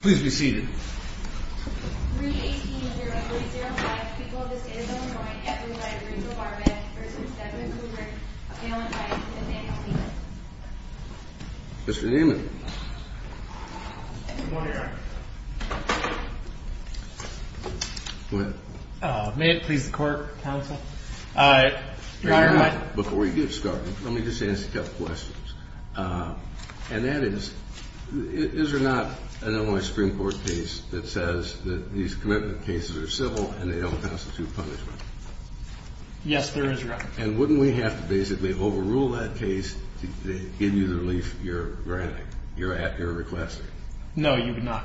please be seated. Mr. Newman. Go ahead. May it please the court, counsel? Before you get started, let me just answer a couple questions. And that is, is there not an Illinois Supreme Court case that says that these commitment cases are civil and they don't constitute punishment? Yes, there is, Your Honor. And wouldn't we have to basically overrule that case to give you the relief you're granting, you're requesting? No, you would not.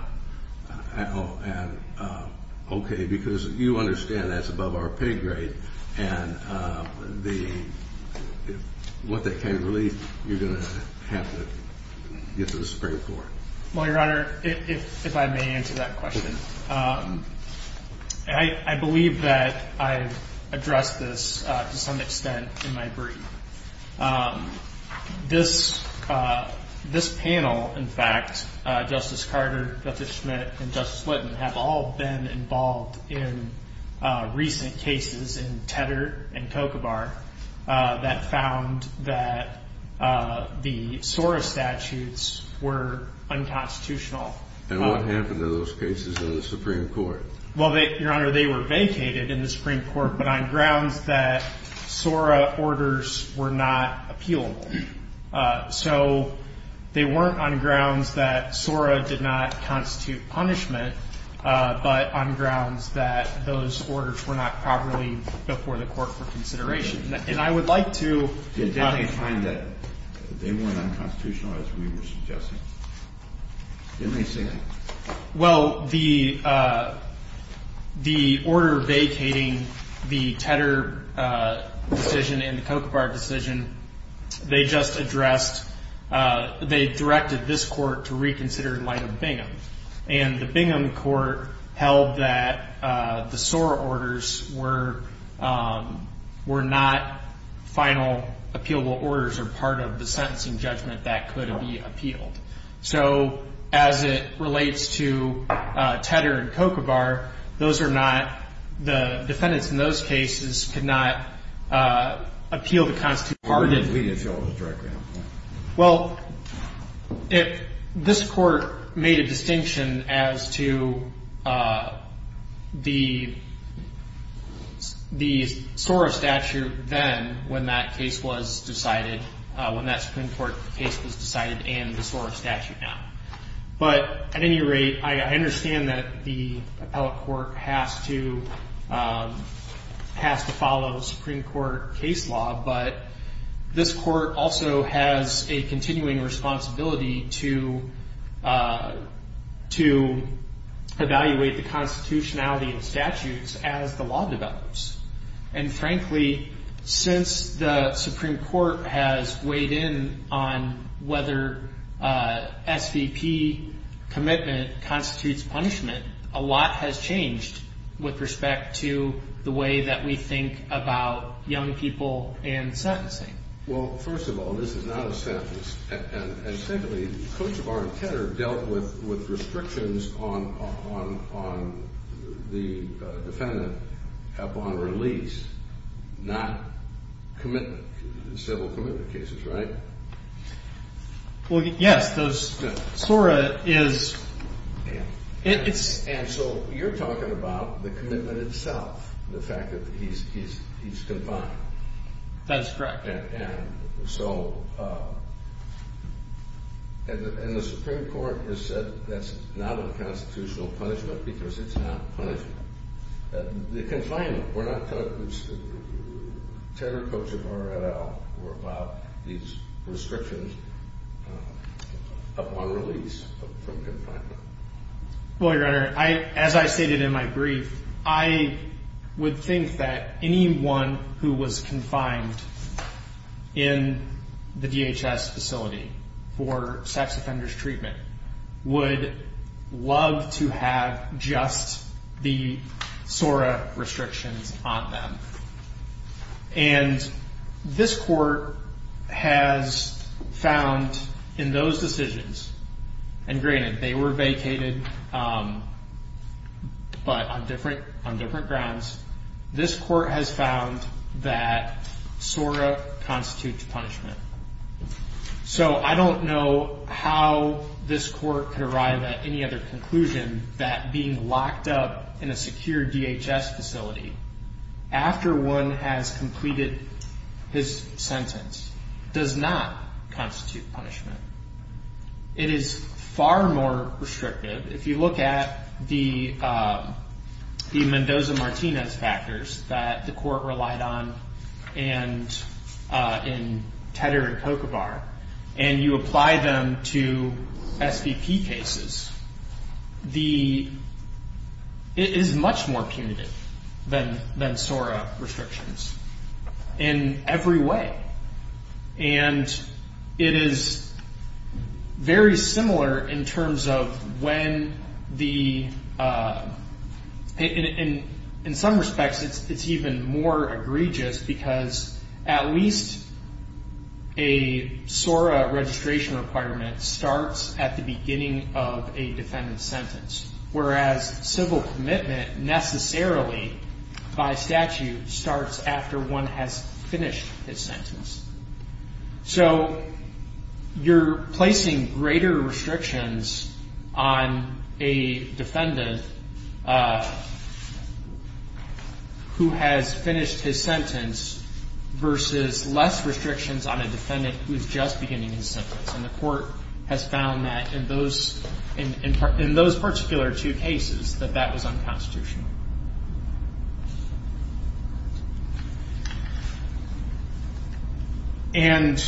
Okay, because you understand that's above our pay grade, and the, what that kind of relief you're going to have to get to the Supreme Court. Well, Your Honor, if I may answer that question. I believe that I've addressed this to some extent in my brief. This panel, in fact, Justice Carter, Justice Schmidt, and Justice Whitten have all been involved in recent cases in Tedder and Kokobar that found that the SORA statutes were unconstitutional. And what happened to those cases in the Supreme Court? Well, Your Honor, they were vacated in the Supreme Court, but on grounds that SORA orders were not appealable. So they weren't on grounds that SORA did not constitute punishment, but on grounds that those orders were not properly before the Court for consideration. And I would like to... Did they find that they weren't unconstitutional as we were suggesting? Didn't they say that? Well, the order vacating the Tedder decision and the Kokobar decision, they just addressed, they directed this Court to reconsider in light of Bingham. And the Bingham Court held that the SORA orders were not final appealable orders or part of the sentencing judgment that could be appealed. So as it relates to Tedder and Kokobar, those are not... The defendants in those cases could not appeal the Constitution. Well, this Court made a distinction as to the SORA statute then when that case was decided, when that Supreme Court case was decided and the SORA statute now. But at any rate, I understand that the this Court also has a continuing responsibility to evaluate the constitutionality and statutes as the law develops. And frankly, since the Supreme Court has weighed in on whether SVP commitment constitutes punishment, a lot has changed with respect to the way that we think about young people and sentencing. Well, first of all, this is not a sentence. And secondly, Kokobar and Tedder dealt with restrictions on the defendant upon release, not commitment, civil commitment cases, right? Well, yes, those SORA is... And so you're talking about the commitment itself, the fact that he's confined. That's correct. And so, and the Supreme Court has said that's not a constitutional punishment because it's not punishment. The confinement, we're not talking... Tedder, Kokobar, et al. were about these restrictions upon release from confinement. Well, Your Honor, as I stated in my brief, I would think that anyone who was confined in the DHS facility for sex offenders treatment would love to have just the SORA restrictions on them. And this Court has found in those decisions, and granted they were vacated, but on different grounds, this Court has found that SORA constitutes punishment. So I don't know how this Court can arrive at any other conclusion that being locked up in a secure DHS facility after one has completed his sentence does not constitute punishment. It is far more restrictive. If you look at the Mendoza-Martinez factors that the Court relied on in Tedder and Kokobar, and you apply them to SVP cases, it is much more punitive than And it is very similar in terms of when the... In some respects, it's even more egregious because at least a SORA registration requirement starts at the beginning of a defendant's sentence, whereas civil commitment necessarily by statute starts after one has finished his sentence. So you're placing greater restrictions on a defendant who has finished his sentence versus less restrictions on a defendant who is just beginning his sentence. And the Court has found that in those particular two cases, that that was unconstitutional. And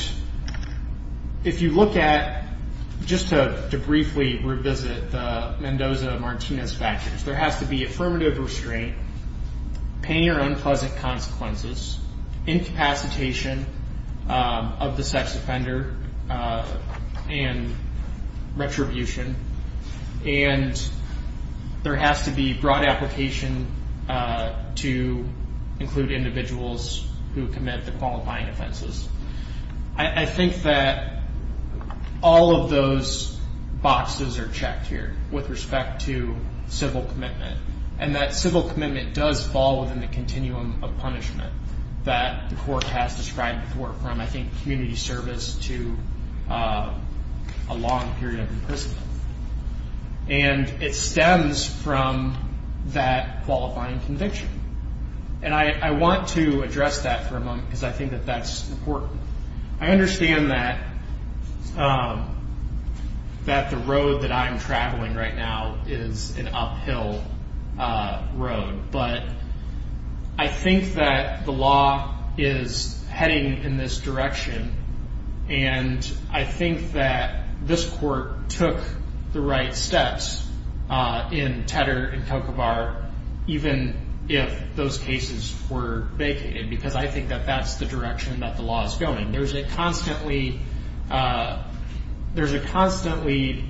if you look at, just to briefly revisit the Mendoza-Martinez factors, there has to be affirmative restraint, pain or unpleasant consequences, incapacitation of the sex offender, and retribution. And there has to be broad application to include individuals who commit the qualifying offenses. I think that all of those boxes are checked here with respect to civil commitment. And that civil commitment does fall within the continuum of punishment that the Court has described before, from, I think, that qualifying conviction. And I want to address that for a moment because I think that that's important. I understand that the road that I'm traveling right now is an uphill road, but I think that the law is heading in this direction. I think that the law is going. There's a constantly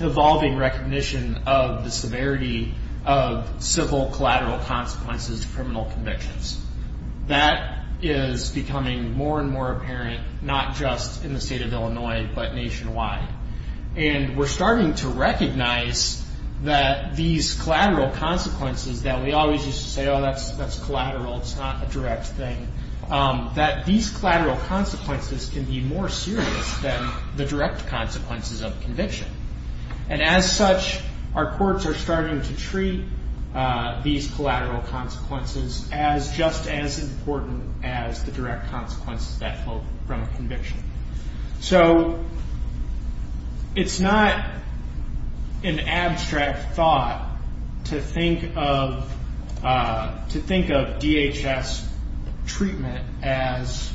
evolving recognition of the severity of civil collateral consequences to criminal convictions. That is becoming more and more apparent, not just in the state of Illinois, but nationwide. And we're starting to recognize that these collateral consequences that we always used to say, oh, that's collateral, it's not a direct thing, that these collateral consequences can be more serious than the direct consequences of conviction. And as such, our courts are starting to treat these collateral consequences as just as important as the direct consequences that flow from a conviction. So it's not an abstract thought to think of DHS treatment as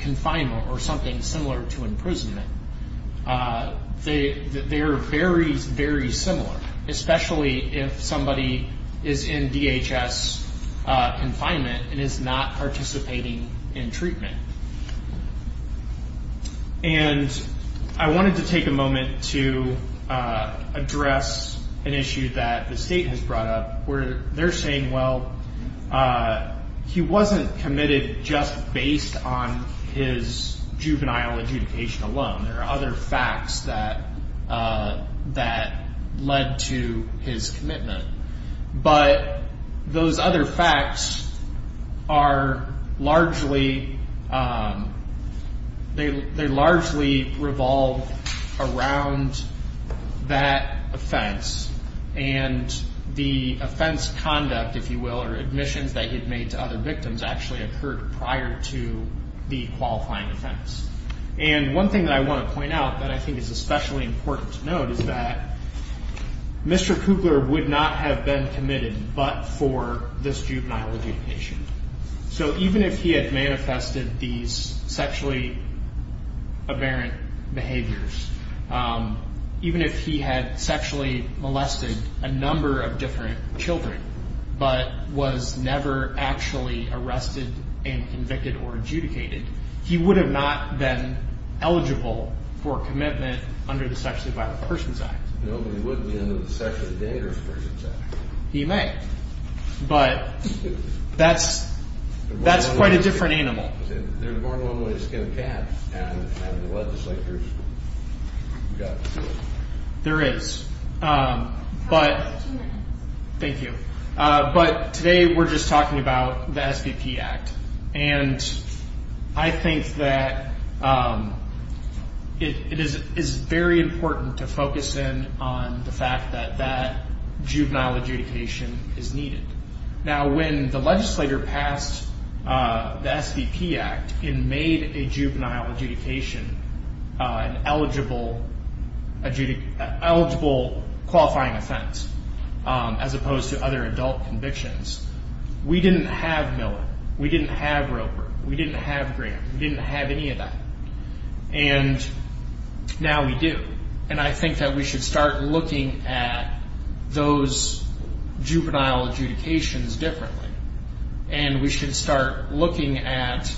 confinement or something similar to imprisonment. They're very, very similar, especially if somebody is in DHS confinement and is not participating in treatment. And I wanted to take a moment to address an issue that the state has brought up where they're saying, well, he wasn't committed just based on his juvenile adjudication alone. There are other facts that led to his commitment. But those other facts are largely, they largely revolve around that offense. And the offense conduct, if you will, or admissions that he'd made to other victims actually occurred prior to the qualifying offense. And one thing that I want to point out that I think is especially important to note is that Mr. Kugler would not have been committed but for this juvenile adjudication. So even if he had manifested these sexually aberrant behaviors, even if he had sexually molested a number of different children but was never actually arrested and convicted or adjudicated, he would have not been eligible for commitment under the Sexually Violent Persons Act. Nobody would be under the Sexually Dangerous Persons Act. He may. But that's quite a different animal. There is. But, thank you. But today we're just talking about the SVP Act. And I think that it is very important to focus in on the fact that that juvenile adjudication is needed. Now when the legislator passed the SVP Act and made a juvenile adjudication an eligible qualifying offense as opposed to other adult convictions, we didn't have Miller. We didn't have Roper. We didn't have Graham. We didn't have any of that. And now we do. And I think that we should start looking at those juvenile adjudications differently. And we should start looking at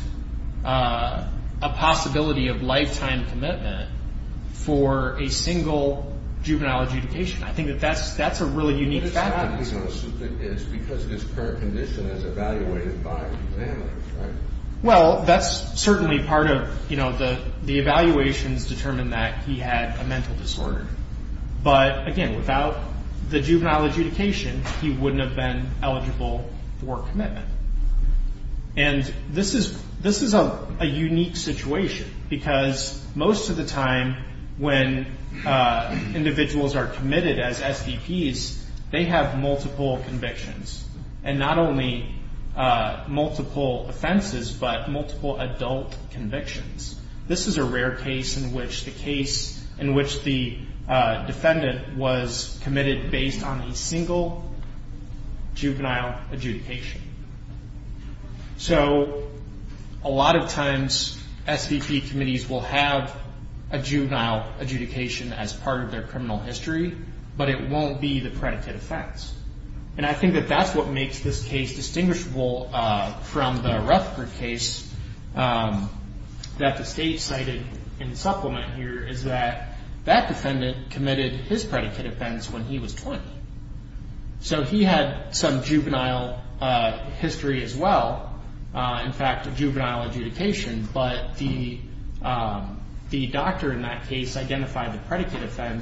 a possibility of lifetime commitment for a single juvenile adjudication. I think that that's a really unique fact. It's because of his current condition as evaluated by an examiner, right? Well, that's certainly part of, you know, the evaluations determine that he had a mental disorder. But again, without the juvenile adjudication, he wouldn't have been eligible for commitment. And this is a unique situation because most of the time when individuals are committed as SVPs, they have multiple convictions. And not only multiple offenses, but multiple adult convictions. This is a rare case in which the defendant was committed based on a single juvenile adjudication. So a lot of times, SVP committees will have a juvenile adjudication as part of their criminal history, but it won't be the predicate offense. And I think that that's what makes this case distinguishable from the Ruffker case that the state cited in the supplement here is that that defendant committed his predicate offense when he was 20. So he had some juvenile history as well. In fact, a juvenile adjudication, but the doctor in that case identified the that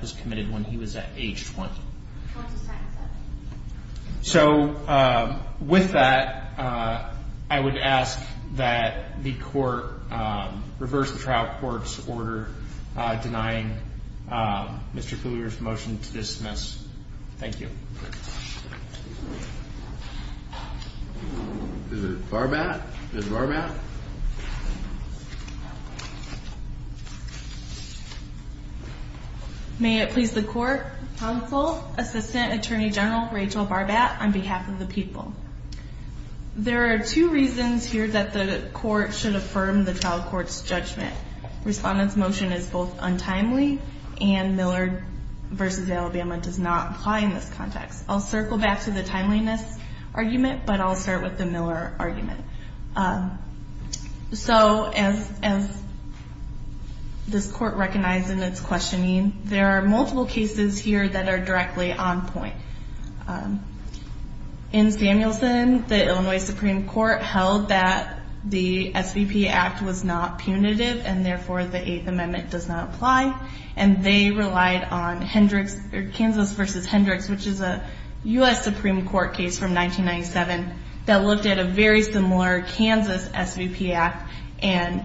was committed when he was at age 20. So with that, I would ask that the court reverse the trial court's order denying Mr. Kluger's motion to dismiss. Thank you. Is it Barbat? Is it Barbat? May it please the court, counsel, assistant attorney general Rachel Barbat on behalf of the people. There are two reasons here that the court should affirm the trial court's judgment. Respondent's motion is both untimely and Miller v. Alabama does not apply in this context. I'll circle back to the timeliness argument, but I'll start with the Miller argument. So as this court recognized in its questioning, there are multiple cases here that are directly on point. In Samuelson, the Illinois Supreme Court held that the SVP Act was not punitive and therefore the Eighth Amendment does not apply and they relied on Hendricks, Kansas v. Hendricks, which is a U.S. Supreme Court case from 1997 that looked at a very similar Kansas SVP Act and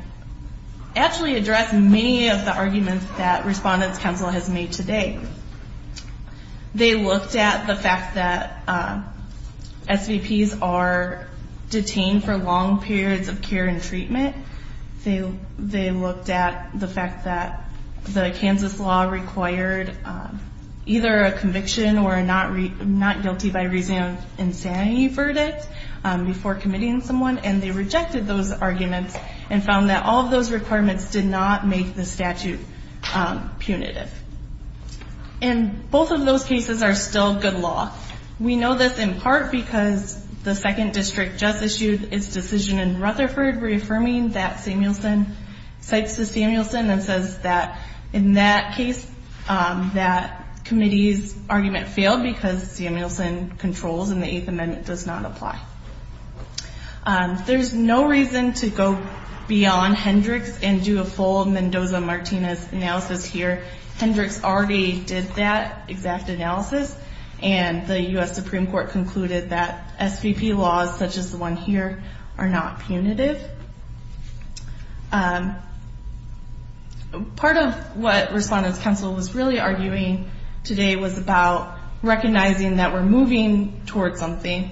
actually addressed many of the arguments that Respondent's counsel has made today. They looked at the fact that SVPs are detained for long periods of care and required either a conviction or a not guilty by resounding verdict before committing someone and they rejected those arguments and found that all of those requirements did not make the statute punitive. And both of those cases are still good law. We know this in part because the second district just issued its decision in Rutherford reaffirming that Samuelson cites the Samuelson and says that in that case, that committee's argument failed because Samuelson controls and the Eighth Amendment does not apply. There's no reason to go beyond Hendricks and do a full Mendoza-Martinez analysis here. Hendricks already did that exact analysis and the U.S. Supreme Court concluded that SVP laws such as the one here are not punitive. Part of what Respondent's counsel was really arguing today was about recognizing that we're moving toward something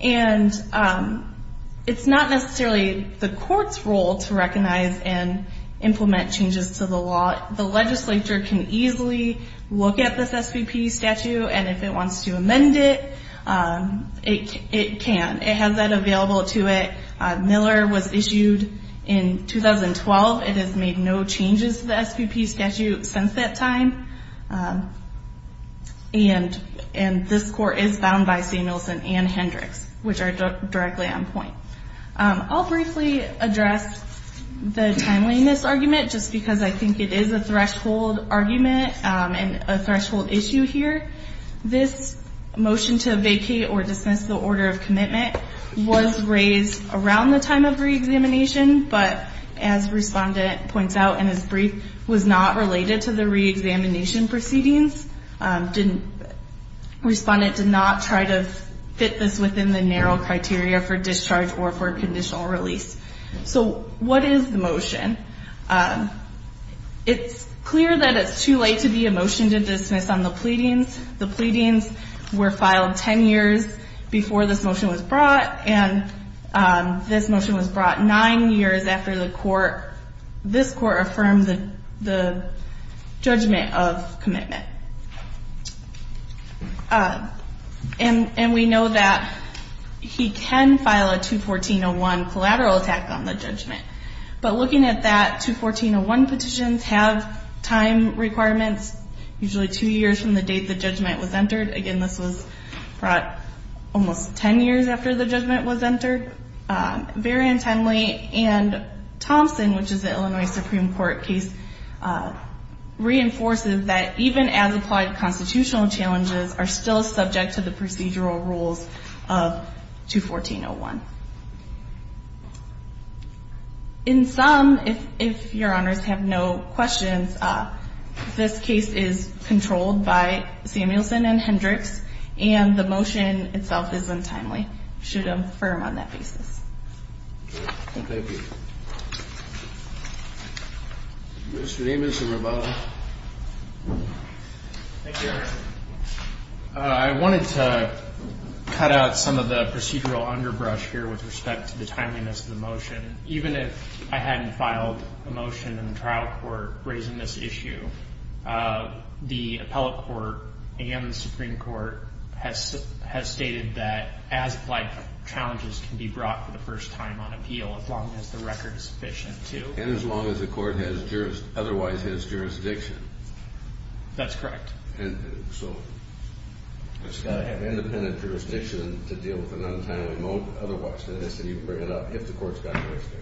and it's not necessarily the court's role to recognize and implement changes to the law. The legislature can easily look at this SVP statute and if it wants to amend it, it can. It has that available to it. Miller was issued in 2012. It has made no changes to the SVP statute since that time. And this court is bound by Samuelson and Hendricks, which are directly on point. I'll briefly address the timeliness argument just because I think it is a threshold argument and a threshold issue here. This motion to vacate or dismiss the order of commitment was raised around the time of re-examination, but as Respondent points out in his brief, was not related to the re-examination proceedings. Respondent did not try to fit this within the narrow criteria for discharge or for conditional release. So what is the motion? It's clear that it's too late to be a motion to dismiss on the pleadings. The pleadings were filed 10 years before this motion was brought, 9 years after this court affirmed the judgment of commitment. And we know that he can file a 214-01 collateral attack on the judgment. But looking at that, 214-01 petitions have time requirements usually 2 years from the date the judgment was entered. Again, this was brought almost 10 years after the judgment was entered. Very untimely. And Thompson, which is the Illinois Supreme Court case, reinforces that even as applied constitutional challenges are still subject to the procedural rules of 214-01. In sum, if your honors have no questions, this case is controlled by Samuelson and Hendricks and the motion itself is untimely. I should affirm on that basis. Mr. Amos and Revolta. I wanted to cut out some of the procedural underbrush here with respect to the timeliness of the motion. Even if I hadn't filed a motion in the trial court raising this issue, the appellate court and the Supreme Court has stated that as applied challenges can be brought for the first time on appeal as long as the record is sufficient to. And as long as the court otherwise has jurisdiction. That's correct. And so it's got to have independent jurisdiction to deal with an untimely motion. Otherwise, it has to be brought up if the court's got jurisdiction.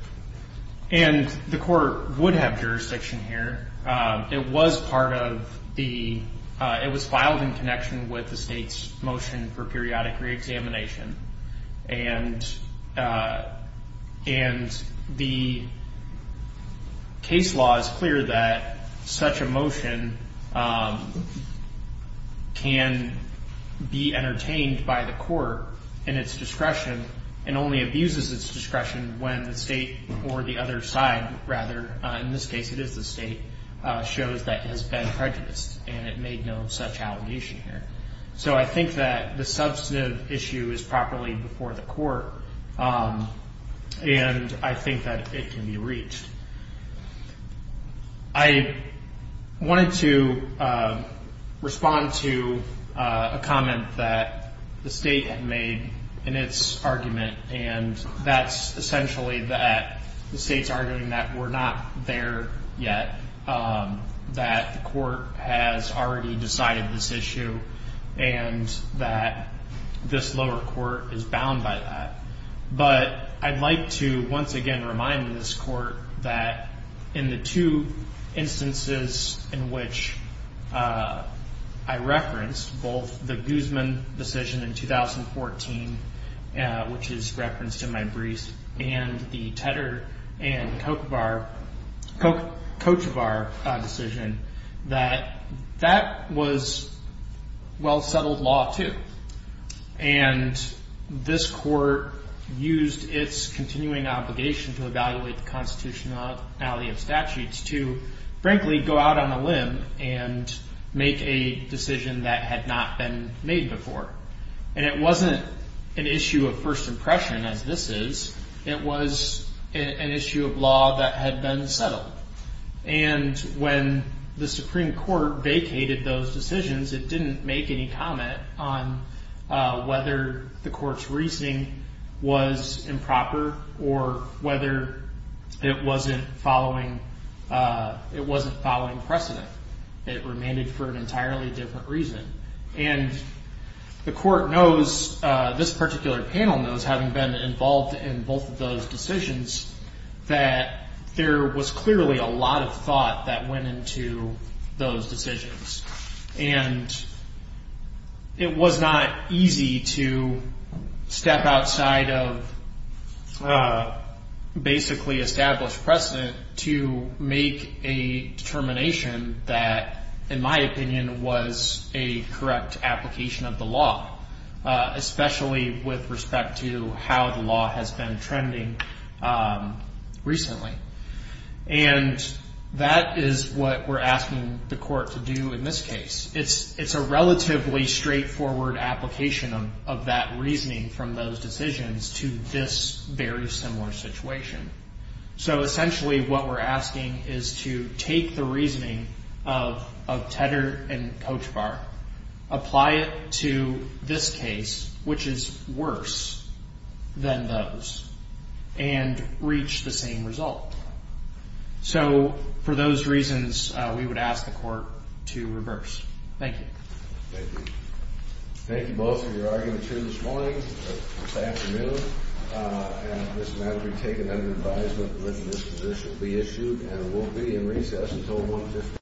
And the court would have jurisdiction here. It was part of the It was filed in connection with the state's motion for periodic reexamination. And the case law is clear that such a motion can be entertained by the court in its discretion and only abuses its discretion when the state or the other side rather, in this case, it is the state, shows that it has been prejudiced and it made no such allegation here. So I think that the substantive issue is properly before the court and I think that it can be reached. I wanted to respond to a comment that the state had made in its argument and that's essentially that the state's arguing that we're not there yet, that the court has already decided this issue and that this lower court is bound by that. But I'd like to once again remind this court that in the two instances in which I referenced both the Guzman decision in 2014, which is referenced in my brief, and the Kochevar decision, that that was well-settled law too. And this court used its continuing obligation to evaluate the constitutionality of statutes to, frankly, go out on a limb and make a decision that had not been made before. And it wasn't an issue of first impression as this is, it was an issue of law that had been settled. And when the Supreme Court vacated those decisions, it didn't make any comment on whether the court's reasoning was improper or whether it wasn't following precedent. It remained for an entirely different reason. And the court knows, this particular panel knows, having been involved in both of those decisions, that there was clearly a lot of thought that went into those decisions. And it was not easy to step outside of basically established precedent to make a determination that, in my opinion, was a correct application of the law, especially with respect to how the law has been trending recently. And that is what we're asking the court to do in this case. It's a relatively straightforward application of that reasoning from those decisions to this very similar situation. So essentially what we're asking is to take the reasoning of Tedder and Kochevar, apply it to this case, which is worse than those, and reach the same result. So for those reasons, we would ask the court to reverse. Thank you. Thank you both for your argument here this morning, this afternoon. And this matter will be taken under advisement, and this position will be issued, and it won't be in recess until 1 o'clock.